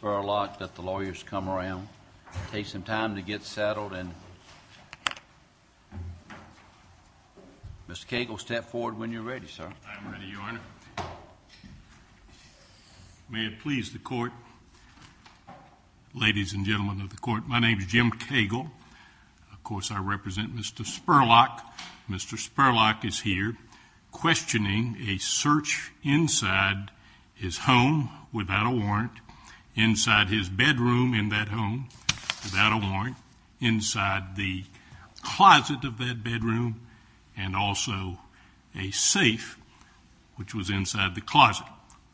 Let the lawyers come around. It takes some time to get settled. Mr. Cagle, step forward when you're ready, sir. I'm ready, Your Honor. May it please the Court. Ladies and gentlemen of the Court, my name is Jim Cagle. Of course, I represent Mr. Spurlock. Mr. Spurlock is here questioning a search inside his home without a warrant, inside his bedroom in that home without a warrant, inside the closet of that bedroom, and also a safe which was inside the closet,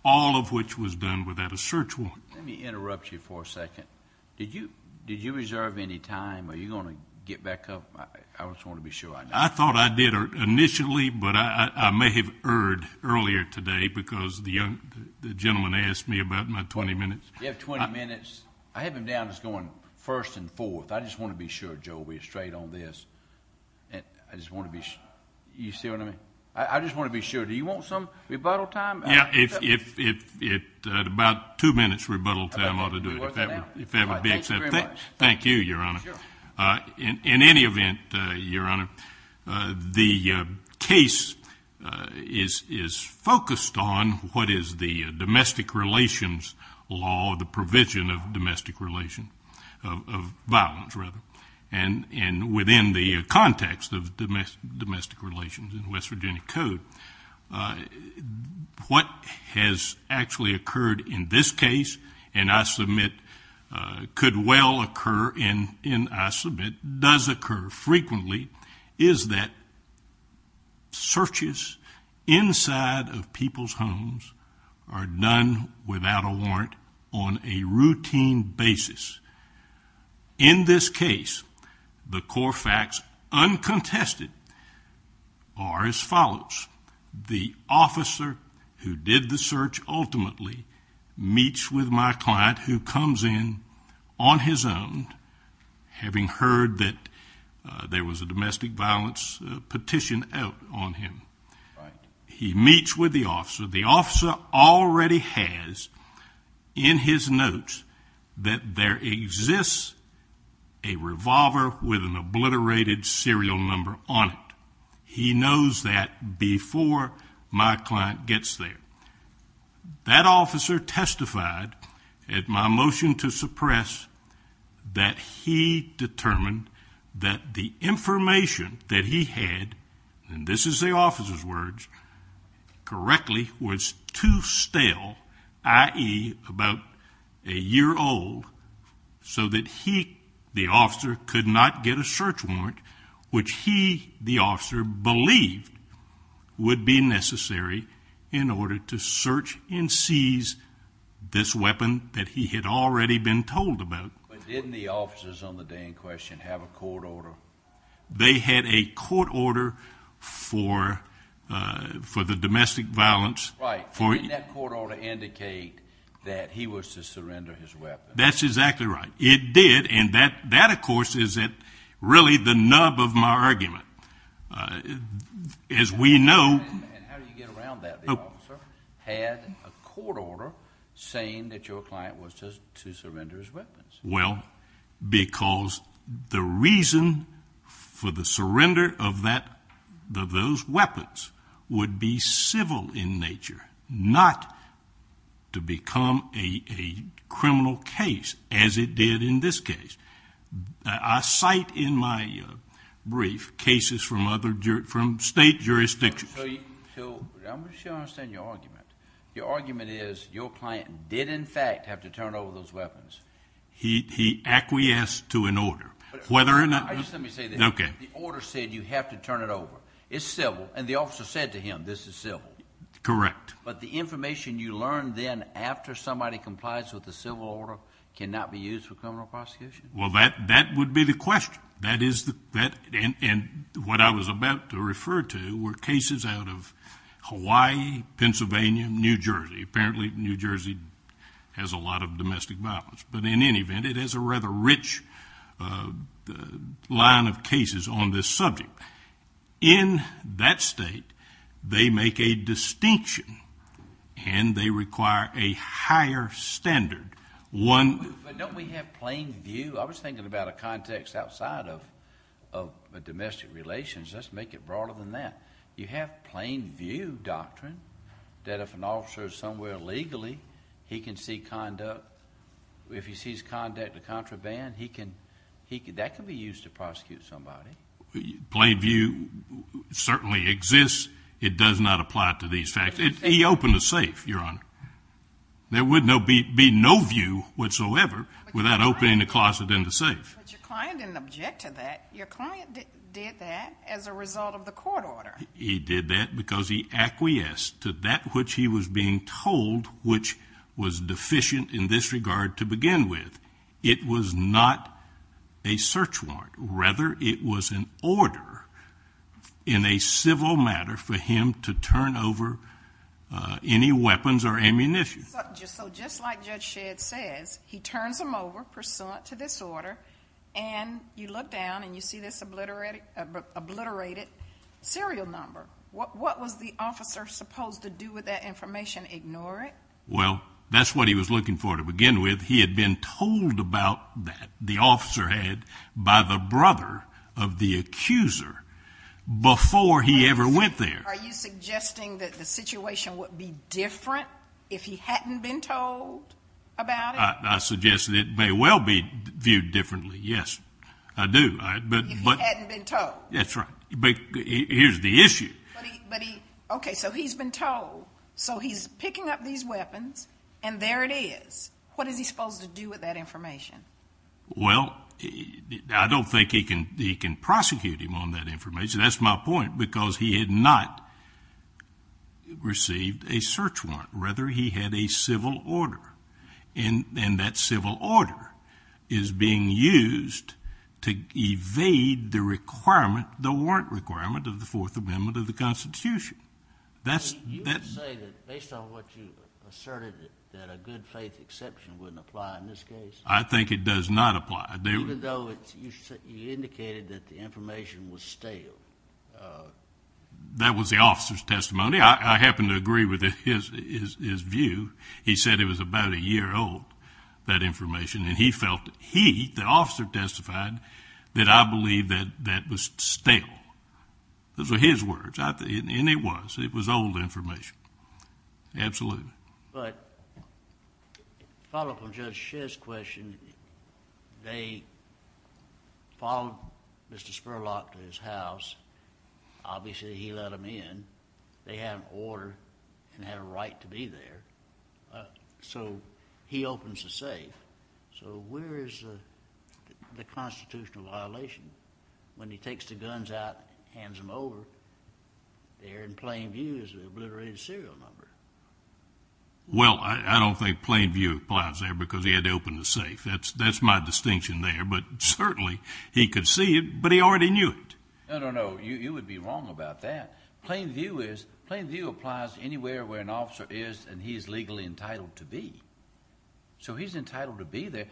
all of which was done without a search warrant. Let me interrupt you for a second. Did you reserve any time? Are you going to get back up? I just want to be sure I know. I thought I did initially, but I may have erred earlier today because the gentleman asked me about my 20 minutes. You have 20 minutes. I have him down as going first and fourth. I just want to be sure, Joe, we're straight on this. I just want to be sure. Do you see what I mean? I just want to be sure. Do you want some rebuttal time? Yeah, about two minutes rebuttal time ought to do it. Thank you very much. Thank you, Your Honor. In any event, Your Honor, the case is focused on what is the domestic relations law, the provision of domestic relations, of violence, rather, and within the context of domestic relations in West Virginia code. What has actually occurred in this case, and I submit could well occur, and I submit does occur frequently, is that searches inside of people's homes are done without a warrant on a routine basis. In this case, the core facts uncontested are as follows. The officer who did the search ultimately meets with my client who comes in on his own, having heard that there was a domestic violence petition out on him. He meets with the officer. The officer already has in his notes that there exists a revolver with an obliterated serial number on it. He knows that before my client gets there. That officer testified at my motion to suppress that he determined that the information that he had, and this is the officer's words, correctly was too stale, i.e., about a year old, so that he, the officer, could not get a search warrant, which he, the officer, believed would be necessary in order to search and seize this weapon that he had already been told about. But didn't the officers on the day in question have a court order? They had a court order for the domestic violence. Right. Didn't that court order indicate that he was to surrender his weapon? That's exactly right. It did, and that, of course, is really the nub of my argument. As we know. And how do you get around that? Well, because the reason for the surrender of those weapons would be civil in nature, not to become a criminal case as it did in this case. I cite in my brief cases from state jurisdictions. I'm not sure I understand your argument. Your argument is your client did, in fact, have to turn over those weapons. He acquiesced to an order. Whether or not... Just let me say this. Okay. The order said you have to turn it over. It's civil, and the officer said to him, this is civil. Correct. But the information you learned then after somebody complies with the civil order cannot be used for criminal prosecution? Well, that would be the question. And what I was about to refer to were cases out of Hawaii, Pennsylvania, New Jersey. Apparently, New Jersey has a lot of domestic violence. But in any event, it has a rather rich line of cases on this subject. In that state, they make a distinction, and they require a higher standard. Don't we have plain view? I was thinking about a context outside of domestic relations. Let's make it broader than that. You have plain view doctrine that if an officer is somewhere illegally, he can see conduct. If he sees conduct of contraband, that can be used to prosecute somebody. Plain view certainly exists. It does not apply to these facts. He opened a safe, Your Honor. There would be no view whatsoever without opening the closet in the safe. But your client didn't object to that. Your client did that as a result of the court order. He did that because he acquiesced to that which he was being told, which was deficient in this regard to begin with. It was not a search warrant. Rather, it was an order in a civil matter for him to turn over any weapons or ammunition. So just like Judge Shedd says, he turns them over pursuant to this order, and you look down and you see this obliterated serial number. What was the officer supposed to do with that information? Ignore it? Well, that's what he was looking for to begin with. He had been told about that, the officer had, by the brother of the accuser before he ever went there. Are you suggesting that the situation would be different if he hadn't been told about it? I suggest that it may well be viewed differently, yes. I do. If he hadn't been told. That's right. But here's the issue. Okay, so he's been told. So he's picking up these weapons, and there it is. What is he supposed to do with that information? Well, I don't think he can prosecute him on that information. That's my point, because he had not received a search warrant. Rather, he had a civil order, and that civil order is being used to evade the warrant requirement of the Fourth Amendment of the Constitution. You would say that, based on what you asserted, that a good faith exception wouldn't apply in this case? I think it does not apply. Even though you indicated that the information was stale? That was the officer's testimony. I happen to agree with his view. He said it was about a year old, that information, and he felt that he, the officer, testified that I believe that that was stale. Those were his words, and it was. It was old information. Absolutely. But to follow up on Judge Shedd's question, they followed Mr. Spurlock to his house. Obviously, he let him in. They had an order and had a right to be there. So he opens the safe. So where is the constitutional violation? When he takes the guns out, hands them over, they're in plain view as an obliterated serial number. Well, I don't think plain view applies there because he had to open the safe. That's my distinction there. But certainly, he could see it, but he already knew it. No, no, no. You would be wrong about that. Plain view applies anywhere where an officer is and he is legally entitled to be. So he's entitled to be there.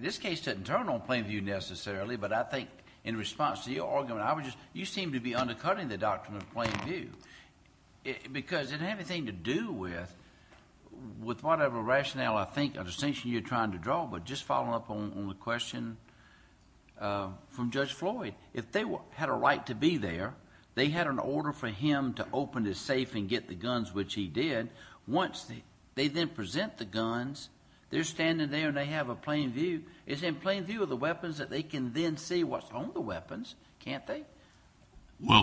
This case doesn't turn on plain view necessarily, but I think in response to your argument, you seem to be undercutting the doctrine of plain view because it had nothing to do with whatever rationale, I think, or distinction you're trying to draw. But just following up on the question from Judge Floyd, if they had a right to be there, they had an order for him to open the safe and get the guns, which he did. Once they then present the guns, they're standing there and they have a plain view. It's in plain view of the weapons that they can then see what's on the weapons, can't they?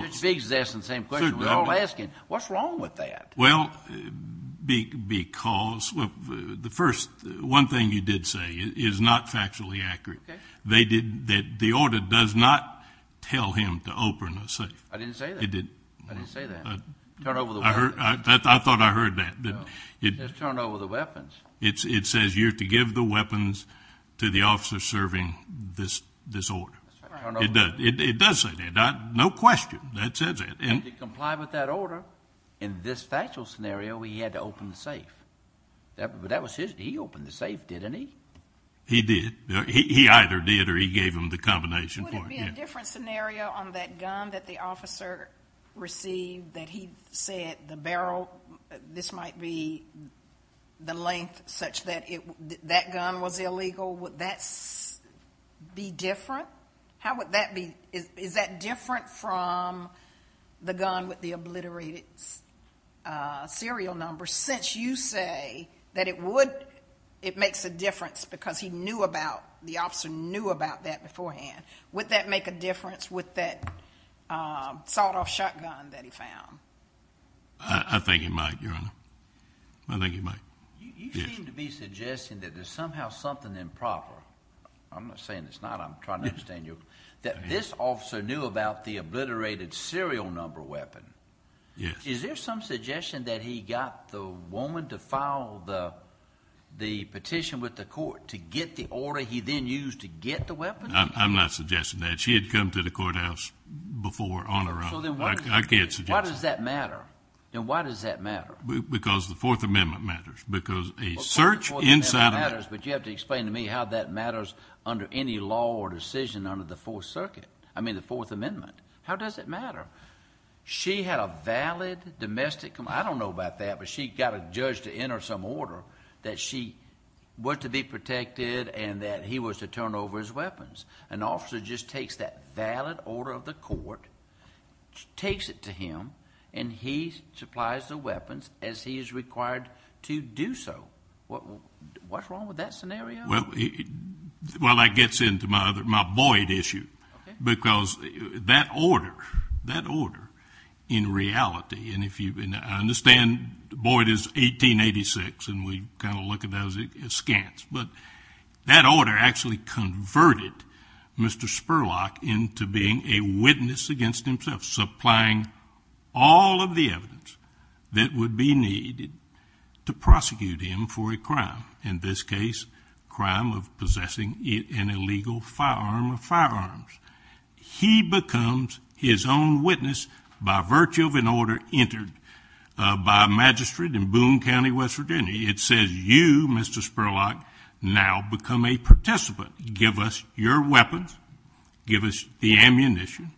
Judge Biggs is asking the same question we're all asking. What's wrong with that? Well, because the first one thing you did say is not factually accurate. The order does not tell him to open a safe. I didn't say that. It did. I didn't say that. Turn over the weapon. I thought I heard that. Just turn over the weapons. It says you're to give the weapons to the officer serving this order. It does say that. No question that says that. And to comply with that order, in this factual scenario, he had to open the safe. But that was his. He opened the safe, didn't he? He did. He either did or he gave him the combination. Would it be a different scenario on that gun that the officer received that he said the barrel, this might be the length such that that gun was illegal? Would that be different? How would that be? Is that different from the gun with the obliterated serial number? Since you say that it makes a difference because the officer knew about that beforehand, would that make a difference with that sawed-off shotgun that he found? I think it might, Your Honor. I think it might. You seem to be suggesting that there's somehow something improper. I'm not saying it's not. I'm trying to understand you. That this officer knew about the obliterated serial number weapon. Yes. Is there some suggestion that he got the woman to file the petition with the court to get the order he then used to get the weapon? I'm not suggesting that. She had come to the courthouse before on her own. I can't suggest that. Why does that matter? Why does that matter? Because the Fourth Amendment matters. Because a search inside a— The Fourth Amendment matters, but you have to explain to me how that matters under any law or decision under the Fourth Circuit, I mean the Fourth Amendment. How does it matter? She had a valid domestic—I don't know about that, but she got a judge to enter some order that she was to be protected and that he was to turn over his weapons. An officer just takes that valid order of the court, takes it to him, and he supplies the weapons as he is required to do so. What's wrong with that scenario? Well, that gets into my void issue. Okay. Because that order, that order in reality, and if you've been—I understand Boyd is 1886, and we kind of look at that as scant, but that order actually converted Mr. Spurlock into being a witness against himself, supplying all of the evidence that would be needed to prosecute him for a crime, in this case, crime of possessing an illegal firearm or firearms. He becomes his own witness by virtue of an order entered by a magistrate in Boone County, West Virginia. It says, you, Mr. Spurlock, now become a participant. Give us your weapons. Give us the ammunition.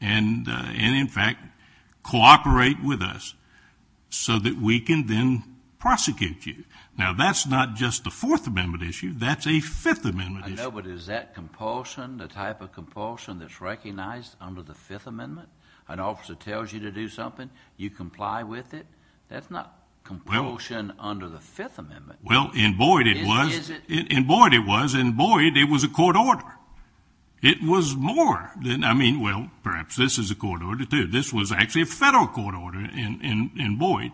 And in fact, cooperate with us so that we can then prosecute you. Now, that's not just a Fourth Amendment issue. That's a Fifth Amendment issue. I know, but is that compulsion, the type of compulsion that's recognized under the Fifth Amendment? An officer tells you to do something, you comply with it? That's not compulsion under the Fifth Amendment. Well, in Boyd it was. Is it? In Boyd it was. In Boyd it was a court order. It was more than—I mean, well, perhaps this is a court order too. This was actually a federal court order in Boyd,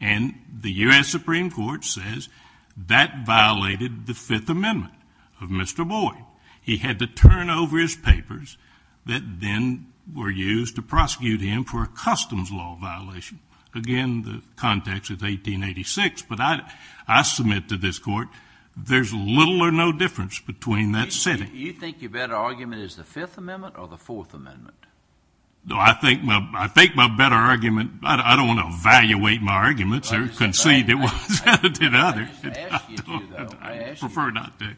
and the U.S. Supreme Court says that violated the Fifth Amendment of Mr. Boyd. He had to turn over his papers that then were used to prosecute him for a customs law violation. Again, the context is 1886, but I submit to this court there's little or no difference between that setting. Do you think your better argument is the Fifth Amendment or the Fourth Amendment? No, I think my better argument—I don't want to evaluate my arguments or concede it was the other. I didn't ask you to, though. I prefer not to.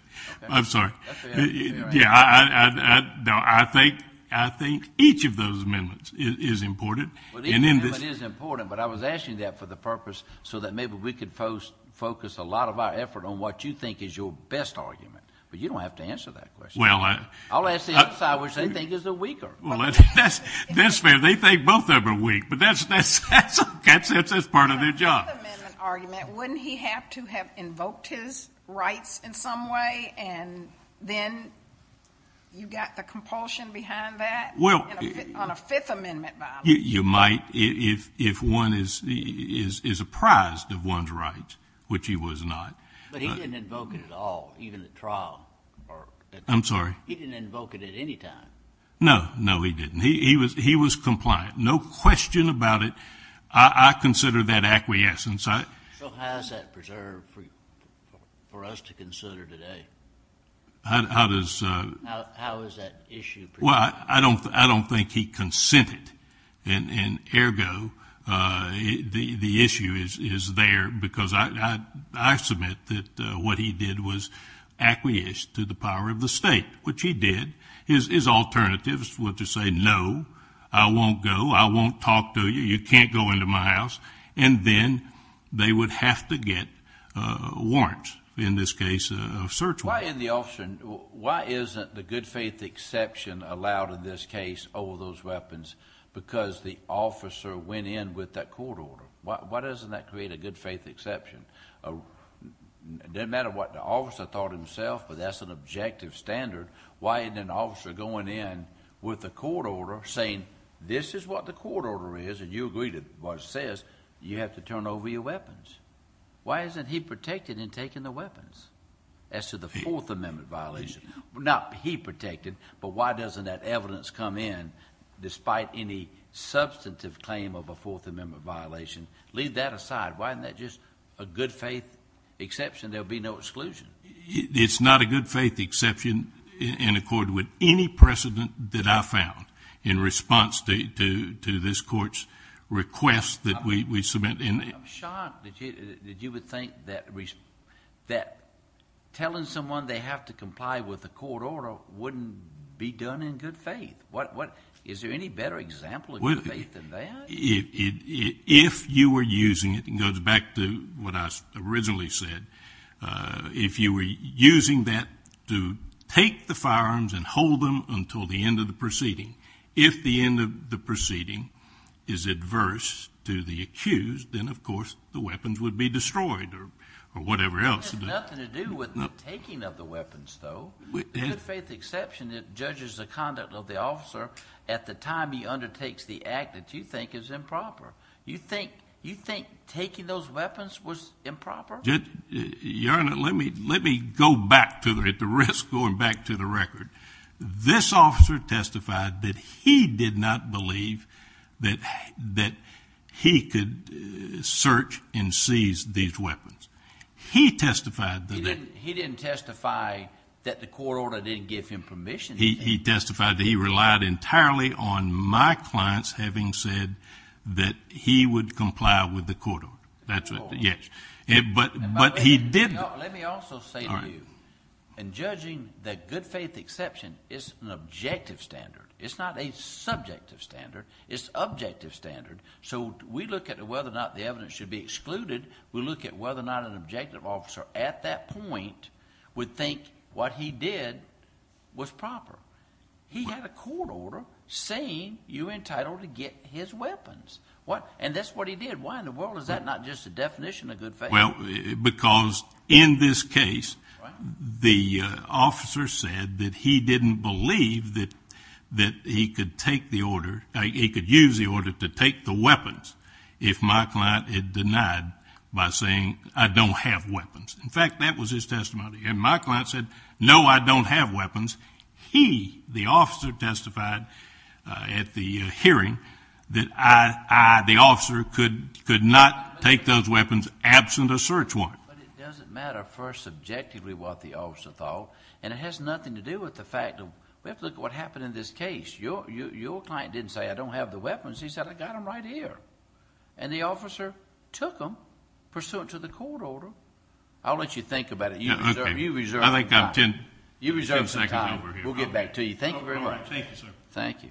I'm sorry. Yeah, I think each of those amendments is important. Each amendment is important, but I was asking that for the purpose so that maybe we could focus a lot of our effort on what you think is your best argument. But you don't have to answer that question. I'll ask the other side which they think is the weaker. Well, that's fair. They think both of them are weak, but that's part of their job. On the Fifth Amendment argument, wouldn't he have to have invoked his rights in some way, and then you got the compulsion behind that on a Fifth Amendment violation? You might if one is apprised of one's rights, which he was not. But he didn't invoke it at all, even at trial. I'm sorry? He didn't invoke it at any time. No. No, he didn't. He was compliant. No question about it. I consider that acquiescence. So how is that preserved for us to consider today? How is that issue preserved? Well, I don't think he consented. And, ergo, the issue is there because I submit that what he did was acquiesce to the power of the state, which he did. His alternatives were to say, no, I won't go. I won't talk to you. You can't go into my house. And then they would have to get warrants, in this case a search warrant. Why isn't the good faith exception allowed in this case over those weapons because the officer went in with that court order? Why doesn't that create a good faith exception? It doesn't matter what the officer thought himself, but that's an objective standard. Why isn't an officer going in with a court order saying this is what the court order is and you agree to what it says? You have to turn over your weapons. Why isn't he protected in taking the weapons as to the Fourth Amendment violation? Not he protected, but why doesn't that evidence come in despite any substantive claim of a Fourth Amendment violation? Leave that aside. Why isn't that just a good faith exception? There will be no exclusion. It's not a good faith exception in accord with any precedent that I found in response to this court's request that we submit. I'm shocked that you would think that telling someone they have to comply with a court order wouldn't be done in good faith. Is there any better example of good faith than that? If you were using it, it goes back to what I originally said. If you were using that to take the firearms and hold them until the end of the proceeding, if the end of the proceeding is adverse to the accused, then, of course, the weapons would be destroyed or whatever else. It has nothing to do with the taking of the weapons, though. It's a good faith exception that judges the conduct of the officer at the time he undertakes the act that you think is improper. You think taking those weapons was improper? Your Honor, let me go back to the record. This officer testified that he did not believe that he could search and seize these weapons. He didn't testify that the court order didn't give him permission. He testified that he relied entirely on my clients having said that he would comply with the court order. But he didn't. Let me also say to you, in judging the good faith exception, it's an objective standard. It's not a subjective standard. It's an objective standard. So we look at whether or not the evidence should be excluded. We look at whether or not an objective officer at that point would think what he did was proper. He had a court order saying you're entitled to get his weapons. And that's what he did. Why in the world is that not just a definition of good faith? Well, because in this case, the officer said that he didn't believe that he could take the order, he could use the order to take the weapons if my client had denied by saying I don't have weapons. In fact, that was his testimony. And my client said, no, I don't have weapons. He, the officer, testified at the hearing that I, the officer, could not take those weapons absent a search warrant. But it doesn't matter first subjectively what the officer thought, and it has nothing to do with the fact of we have to look at what happened in this case. Your client didn't say I don't have the weapons. He said I got them right here. And the officer took them pursuant to the court order. I'll let you think about it. You reserve some time. You reserve some time. We'll get back to you. Thank you very much. Thank you, sir. Thank you.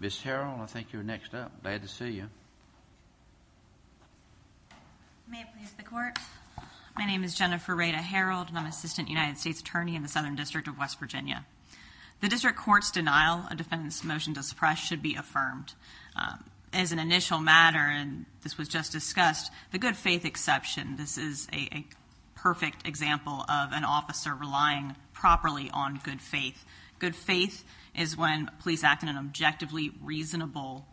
Ms. Harrell, I think you're next up. Glad to see you. May it please the Court. My name is Jennifer Rada Harrell, and I'm Assistant United States Attorney in the Southern District of West Virginia. The district court's denial of defendant's motion to suppress should be affirmed. As an initial matter, and this was just discussed, the good faith exception, this is a perfect example of an officer relying properly on good faith. Good faith is when police act in an objectively reasonable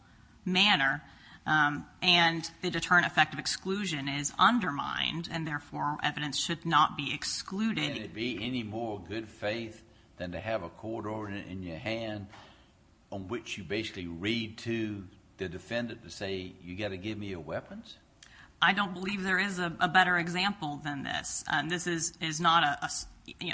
manner, and the deterrent effect of exclusion is undermined, and therefore evidence should not be excluded. Can it be any more good faith than to have a court order in your hand on which you basically read to the defendant to say you've got to give me your weapons? I don't believe there is a better example than this. This is not a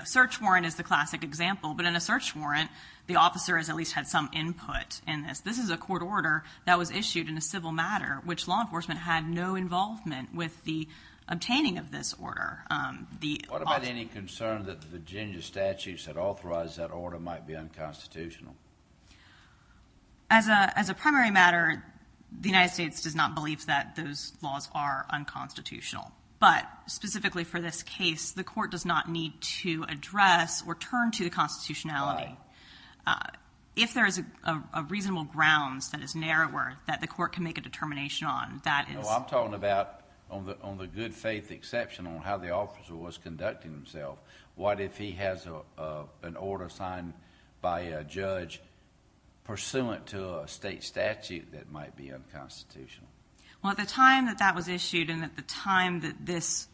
search warrant is the classic example, but in a search warrant the officer has at least had some input in this. This is a court order that was issued in a civil matter, which law enforcement had no involvement with the obtaining of this order. What about any concern that the Virginia statutes that authorized that order might be unconstitutional? As a primary matter, the United States does not believe that those laws are unconstitutional, but specifically for this case, the court does not need to address or turn to the constitutionality. If there is a reasonable grounds that is narrower that the court can make a determination on, that is... No, I'm talking about on the good faith exception on how the officer was conducting himself. What if he has an order signed by a judge pursuant to a state statute that might be unconstitutional? Well, at the time that that was issued and at the time that this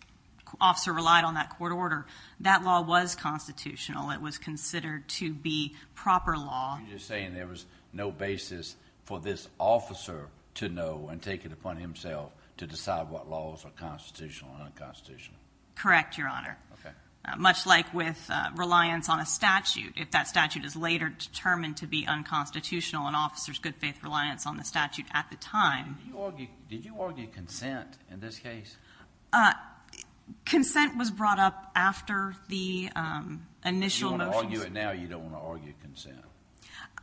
officer relied on that court order, that law was constitutional. It was considered to be proper law. You're just saying there was no basis for this officer to know and take it upon himself to decide what laws are constitutional and unconstitutional? Correct, Your Honor. Okay. Much like with reliance on a statute, if that statute is later determined to be unconstitutional, an officer's good faith reliance on the statute at the time... Did you argue consent in this case? Consent was brought up after the initial motions. You want to argue it now or you don't want to argue consent?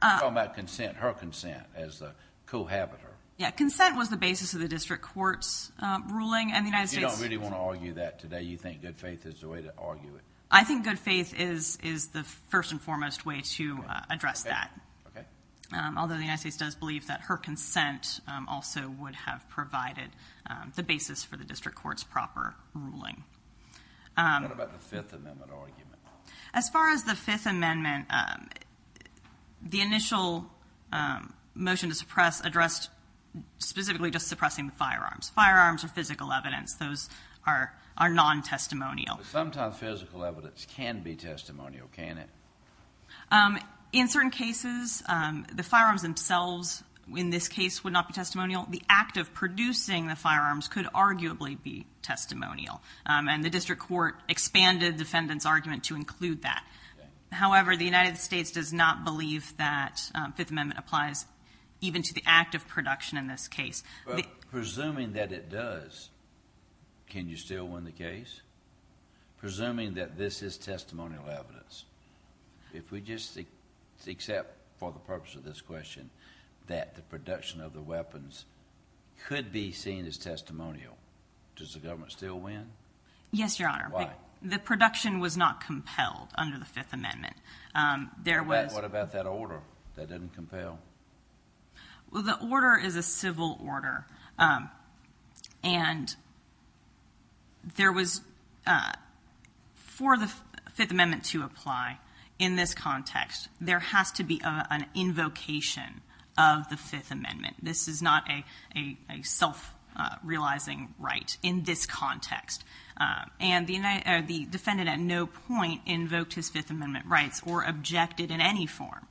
You're talking about her consent as the cohabitor. Yeah, consent was the basis of the district court's ruling and the United States... I think good faith is the first and foremost way to address that. Okay. Although the United States does believe that her consent also would have provided the basis for the district court's proper ruling. What about the Fifth Amendment argument? As far as the Fifth Amendment, the initial motion to suppress addressed specifically just suppressing the firearms. Firearms are physical evidence. Those are non-testimonial. Sometimes physical evidence can be testimonial, can't it? In certain cases, the firearms themselves in this case would not be testimonial. The act of producing the firearms could arguably be testimonial. And the district court expanded the defendant's argument to include that. However, the United States does not believe that Fifth Amendment applies even to the act of production in this case. Presuming that it does, can you still win the case? Presuming that this is testimonial evidence, if we just accept for the purpose of this question that the production of the weapons could be seen as testimonial, does the government still win? Yes, Your Honor. Why? The production was not compelled under the Fifth Amendment. There was... What about that order? That didn't compel? Well, the order is a civil order, and there was... For the Fifth Amendment to apply in this context, there has to be an invocation of the Fifth Amendment. This is not a self-realizing right in this context. And the defendant at no point invoked his Fifth Amendment rights or objected in any form.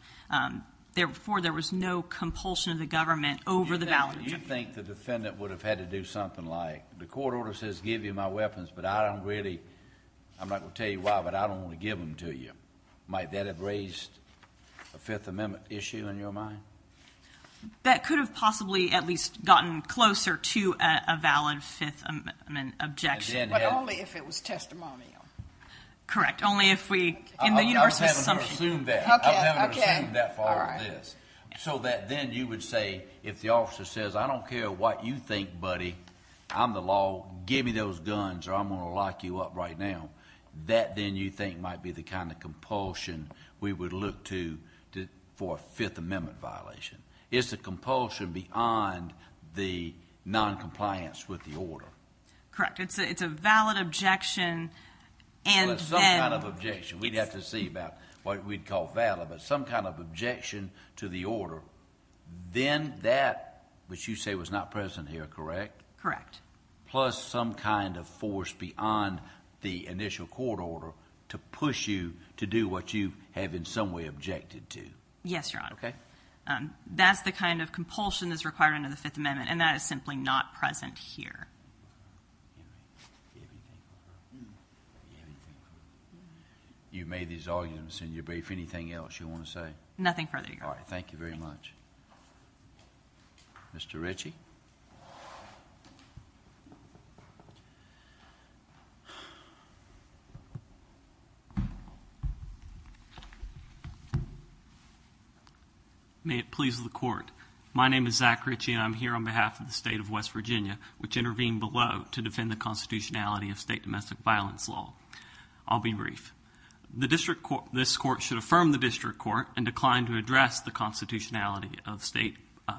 Therefore, there was no compulsion of the government over the... You think the defendant would have had to do something like, the court order says give you my weapons, but I don't really... I'm not going to tell you why, but I don't want to give them to you. Might that have raised a Fifth Amendment issue in your mind? That could have possibly at least gotten closer to a valid Fifth Amendment objection. But only if it was testimonial. Correct. Only if we... I haven't assumed that. I haven't assumed that far with this. So that then you would say, if the officer says, I don't care what you think, buddy. I'm the law. Give me those guns, or I'm going to lock you up right now. That then you think might be the kind of compulsion we would look to for a Fifth Amendment violation. It's a compulsion beyond the noncompliance with the order. Correct. It's a valid objection, and then... Some kind of objection. We'd have to see about what we'd call valid, but some kind of objection to the order. Then that, which you say was not present here, correct? Correct. Plus some kind of force beyond the initial court order to push you to do what you have in some way objected to. Yes, Your Honor. Okay. That's the kind of compulsion that's required under the Fifth Amendment, and that is simply not present here. You've made these arguments in your brief. Anything else you want to say? Nothing further, Your Honor. All right. Thank you very much. Thank you. Mr. Ritchie? May it please the Court. My name is Zach Ritchie, and I'm here on behalf of the State of West Virginia, which intervened below to defend the constitutionality of state domestic violence law. I'll be brief. The district court... this court should affirm the district court and decline to address the constitutionality of state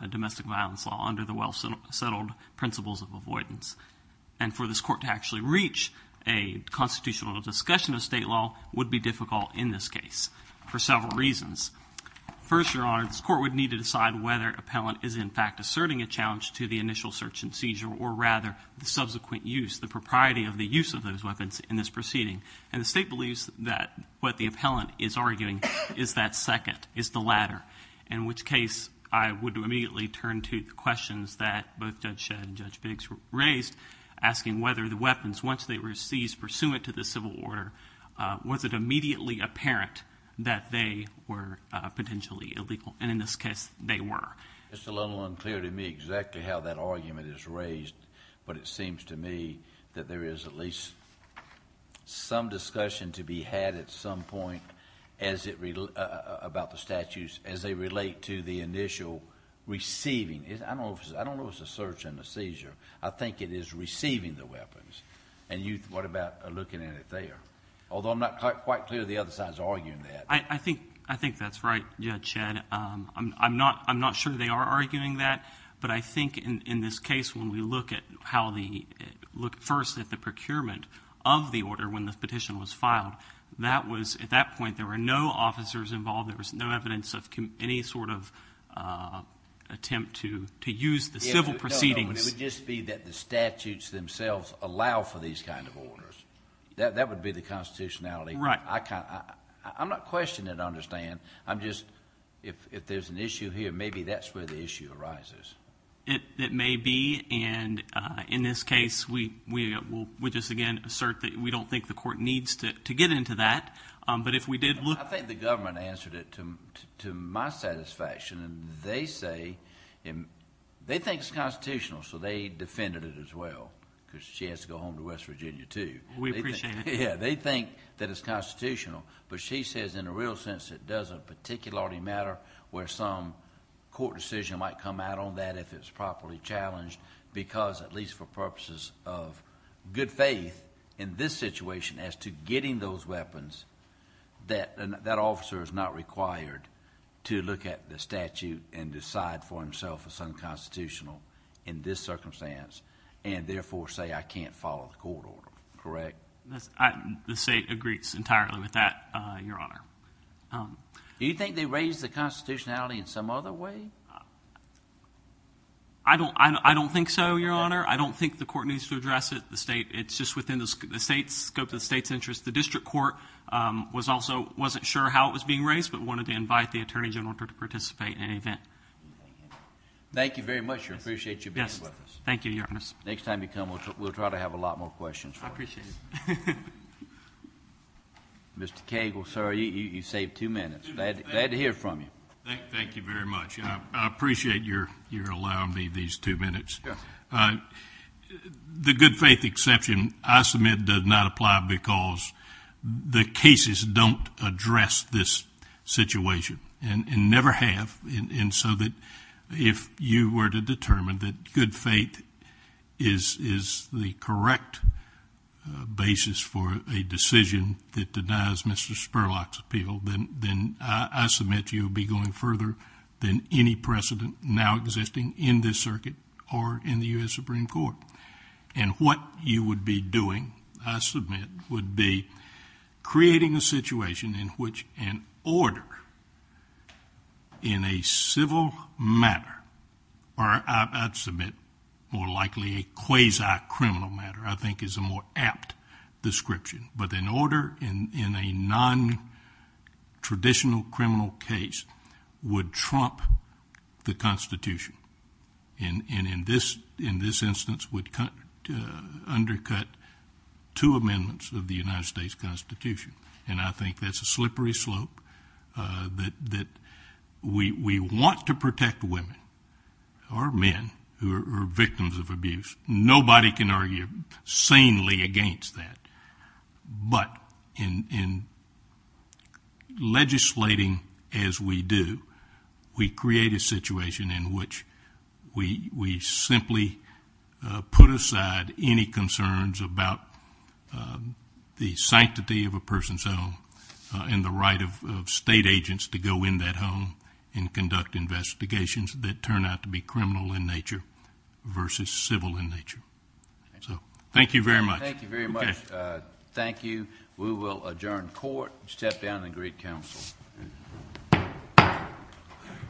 domestic violence law under the well-settled principles of avoidance. And for this court to actually reach a constitutional discussion of state law would be difficult in this case for several reasons. First, Your Honor, this court would need to decide whether an appellant is in fact asserting a challenge to the initial search and seizure, or rather the subsequent use, the propriety of the use of those weapons in this proceeding. And the state believes that what the appellant is arguing is that second, is the latter, in which case I would immediately turn to the questions that both Judge Shedd and Judge Biggs raised, asking whether the weapons, once they were seized pursuant to the civil order, was it immediately apparent that they were potentially illegal? And in this case, they were. It's a little unclear to me exactly how that argument is raised, but it seems to me that there is at least some discussion to be had at some point about the statutes as they relate to the initial receiving. I don't know if it's a search and a seizure. I think it is receiving the weapons. And you, what about looking at it there? Although I'm not quite clear the other side is arguing that. I think that's right, Judge Shedd. I'm not sure they are arguing that, but I think in this case when we look first at the procurement of the order when the petition was filed, at that point there were no officers involved. There was no evidence of any sort of attempt to use the civil proceedings. It would just be that the statutes themselves allow for these kind of orders. That would be the constitutionality. Right. I'm not questioning it, I understand. I'm just, if there's an issue here, maybe that's where the issue arises. It may be, and in this case we just again assert that we don't think the court needs to get into that. But if we did look... I think the government answered it to my satisfaction, and they say, they think it's constitutional, so they defended it as well, because she has to go home to West Virginia too. We appreciate it. Yeah, they think that it's constitutional, but she says in a real sense it doesn't particularly matter where some court decision might come out on that if it's properly challenged, because at least for purposes of good faith in this situation as to getting those weapons, that officer is not required to look at the statute and decide for himself it's unconstitutional in this circumstance, and therefore say I can't follow the court order, correct? The state agrees entirely with that, Your Honor. Do you think they raised the constitutionality in some other way? I don't think so, Your Honor. I don't think the court needs to address it. It's just within the scope of the state's interest. The district court also wasn't sure how it was being raised, but wanted to invite the Attorney General to participate in any event. Thank you very much. We appreciate you being with us. Thank you, Your Honor. Next time you come, we'll try to have a lot more questions for you. I appreciate it. Mr. Cagle, sir, you saved two minutes. Glad to hear from you. Thank you very much. I appreciate your allowing me these two minutes. The good faith exception, I submit, does not apply because the cases don't address this situation, and never have, and so that if you were to determine that good faith is the correct basis for a decision that denies Mr. Spurlock's appeal, then I submit you would be going further than any precedent now existing in this circuit or in the U.S. Supreme Court. And what you would be doing, I submit, would be creating a situation in which an order in a civil matter, or I submit more likely a quasi-criminal matter I think is a more apt description, but an order in a non-traditional criminal case would trump the Constitution, and in this instance would undercut two amendments of the United States Constitution. And I think that's a slippery slope that we want to protect women or men who are victims of abuse. Nobody can argue sanely against that. But in legislating as we do, we create a situation in which we simply put aside any concerns about the sanctity of a person's home and the right of state agents to go in that home and conduct investigations that turn out to be criminal in nature versus civil in nature. So thank you very much. Thank you very much. Thank you. We will adjourn court and step down and greet counsel.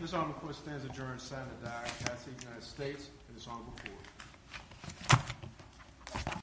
This order of course stands adjourned. Senator Diodati of the United States and his Honorable Court.